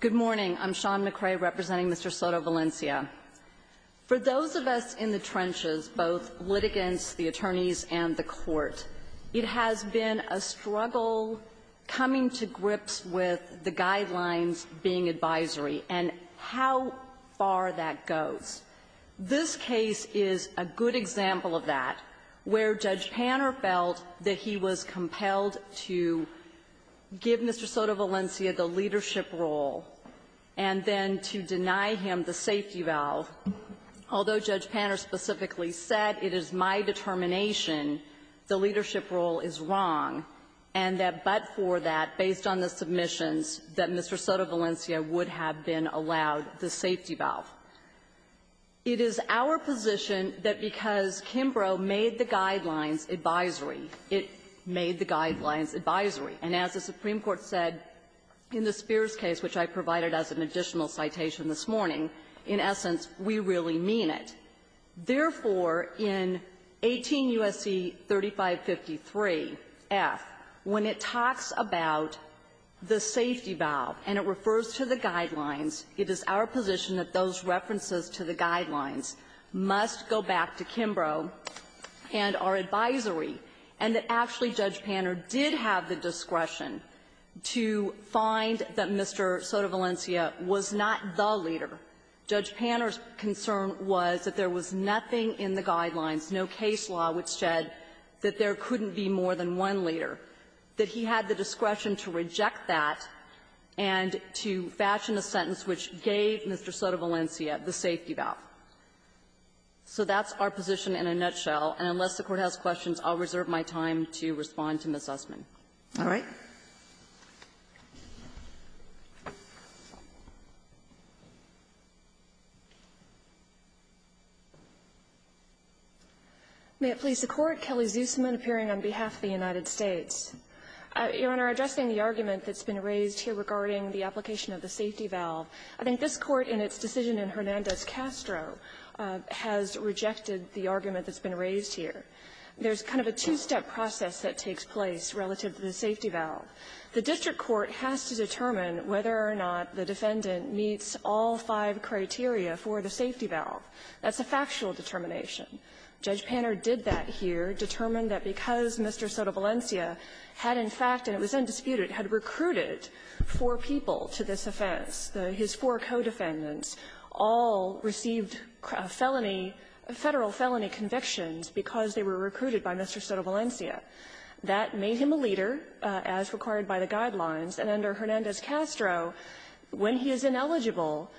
Good morning, I'm Shawn McCrae representing Mr. Soto-Valencia For those of us in the trenches both litigants the attorneys and the court it has been a struggle Coming to grips with the guidelines being advisory and how far that goes This case is a good example of that where judge Panner felt that he was compelled to Give Mr. Soto-Valencia the leadership role and then to deny him the safety valve Although judge Panner specifically said it is my determination The leadership role is wrong and that but for that based on the submissions that Mr Soto-Valencia would have been allowed the safety valve It is our position that because Kimbrough made the guidelines advisory it made the guidelines advisory And as the Supreme Court said in the Spears case, which I provided as an additional citation this morning in essence, we really mean it therefore in 18 USC 3553 F when it talks about The safety valve and it refers to the guidelines. It is our position that those references to the guidelines Must go back to Kimbrough And our advisory and that actually judge Panner did have the discretion To find that mr. Soto-Valencia was not the leader Judge Panner's concern was that there was nothing in the guidelines No case law which said that there couldn't be more than one leader that he had the discretion to reject that and To fashion a sentence which gave mr. Soto-Valencia the safety valve So that's our position in a nutshell and unless the court has questions, I'll reserve my time to respond to miss Usman. All right May it please the court Kelly Zussman appearing on behalf of the United States Your honor addressing the argument that's been raised here regarding the application of the safety valve I think this court in its decision in Hernandez Castro Has rejected the argument that's been raised here There's kind of a two-step process that takes place relative to the safety valve The district court has to determine whether or not the defendant meets all five criteria for the safety valve That's a factual determination judge Panner did that here determined that because mr Soto-Valencia had in fact and it was undisputed had recruited Four people to this offense the his four co-defendants all Received a felony a federal felony convictions because they were recruited by mr. Soto-Valencia That made him a leader as required by the guidelines and under Hernandez Castro When he is ineligible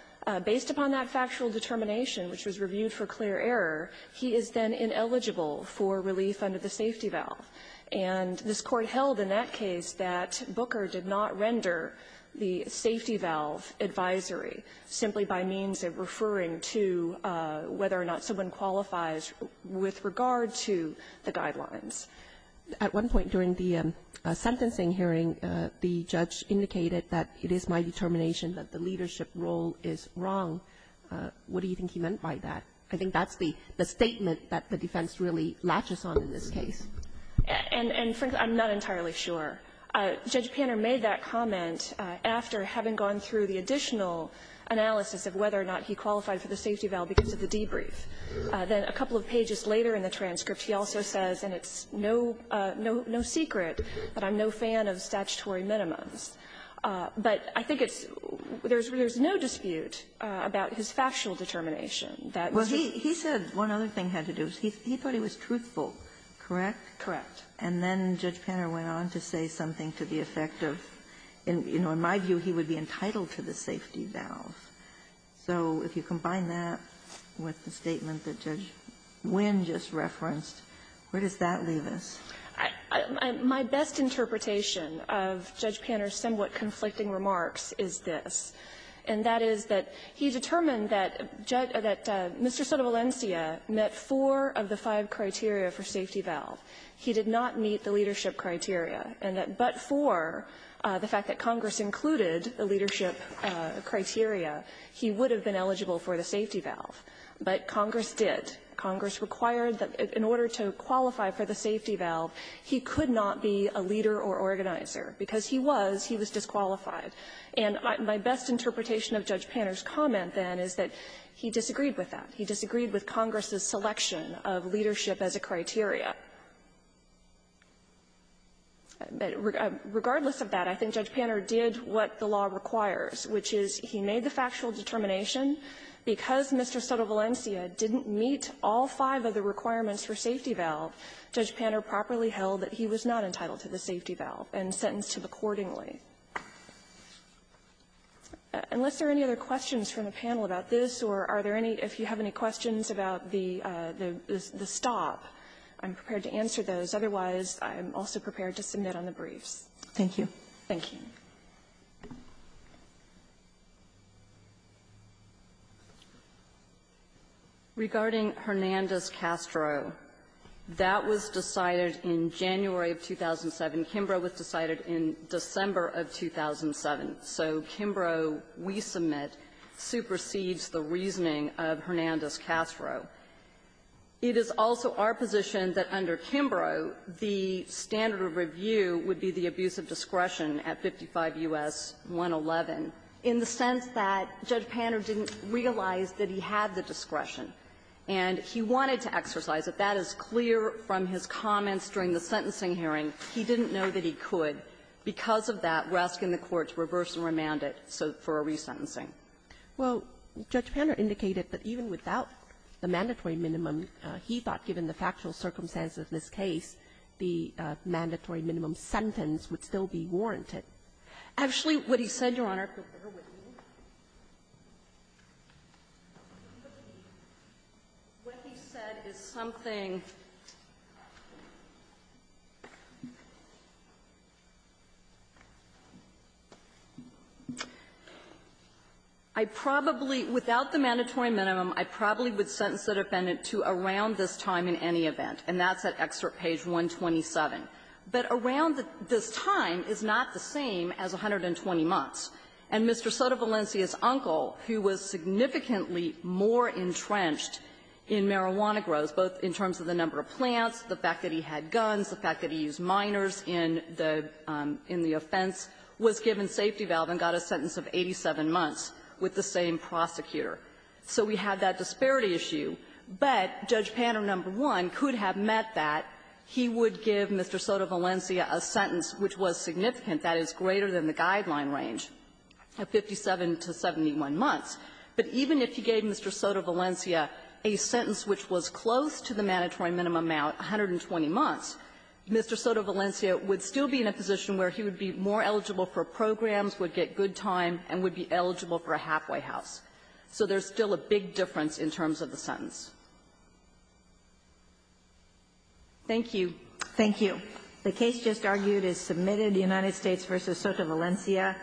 based upon that factual determination, which was reviewed for clear error he is then ineligible for relief under the safety valve and This court held in that case that Booker did not render the safety valve advisory simply by means of referring to Whether or not someone qualifies with regard to the guidelines at one point during the Sentencing hearing the judge indicated that it is my determination that the leadership role is wrong What do you think he meant by that? I think that's the the statement that the defense really latches on in this case And and frankly, I'm not entirely sure Judge Panner made that comment after having gone through the additional Analysis of whether or not he qualified for the safety valve because of the debrief Then a couple of pages later in the transcript. He also says and it's no no no secret, but I'm no fan of statutory minimums But I think it's there's there's no dispute about his factual determination that well He said one other thing had to do is he thought he was truthful Correct. Correct. And then judge Panner went on to say something to the effect of and you know in my view He would be entitled to the safety valve So if you combine that with the statement that judge Wynn just referenced, where does that leave us? my best interpretation of judge Panner's somewhat conflicting remarks is this and That is that he determined that judge that mr. Soto Valencia met four of the five criteria for safety valve He did not meet the leadership criteria and that but for the fact that Congress included the leadership Criteria, he would have been eligible for the safety valve But Congress did Congress required that in order to qualify for the safety valve He could not be a leader or organizer because he was he was disqualified And my best interpretation of judge Panner's comment then is that he disagreed with that he disagreed with Congress's selection of leadership as a criteria But regardless of that, I think judge Panner did what the law requires, which is he made the factual determination because mr. Soto Valencia didn't meet all five of the requirements for safety valve judge Panner properly held that he was not entitled to the safety valve and sentenced him accordingly Unless there are any other questions from the panel about this or are there any if you have any questions about the the stop I'm prepared to answer those. Otherwise, I'm also prepared to submit on the briefs. Thank you. Thank you. Regarding Hernandez-Castro, that was decided in January of 2007. And Kimbrough was decided in December of 2007. So Kimbrough, we submit, supersedes the reasoning of Hernandez-Castro. It is also our position that under Kimbrough, the standard of review would be the abuse of discretion at 55 U.S. 111 in the sense that judge Panner didn't realize that he had the discretion. And he wanted to exercise it. That is clear from his comments during the sentencing hearing. He didn't know that he could. Because of that, we're asking the courts to reverse and remand it for a resentencing. Well, Judge Panner indicated that even without the mandatory minimum, he thought given the factual circumstances of this case, the mandatory minimum sentence would still be warranted. Actually, what he said, Your Honor, but bear with me. What he said is something I probably, without the mandatory minimum, I probably would sentence that defendant to around this time in any event. And that's at excerpt page 127. But around this time is not the same as 120 months. And Mr. Sotovalencia's uncle, who was significantly more entrenched in marijuana grows, both in terms of the number of plants, the fact that he had guns, the fact that he used minors in the offense, was given safety valve and got a sentence of 87 months with the same prosecutor. So we have that disparity issue. But Judge Panner, number one, could have met that. He would give Mr. Sotovalencia a sentence which was significant, that is greater than the guideline range, of 57 to 71 months. But even if he gave Mr. Sotovalencia a sentence which was close to the mandatory minimum amount, 120 months, Mr. Sotovalencia would still be in a position where he would be more eligible for programs, would get good time, and would be eligible for a halfway house. So there's still a big difference in terms of the sentence. Thank you. Thank you. The case just argued is submitted. The United States v. Sotovalencia.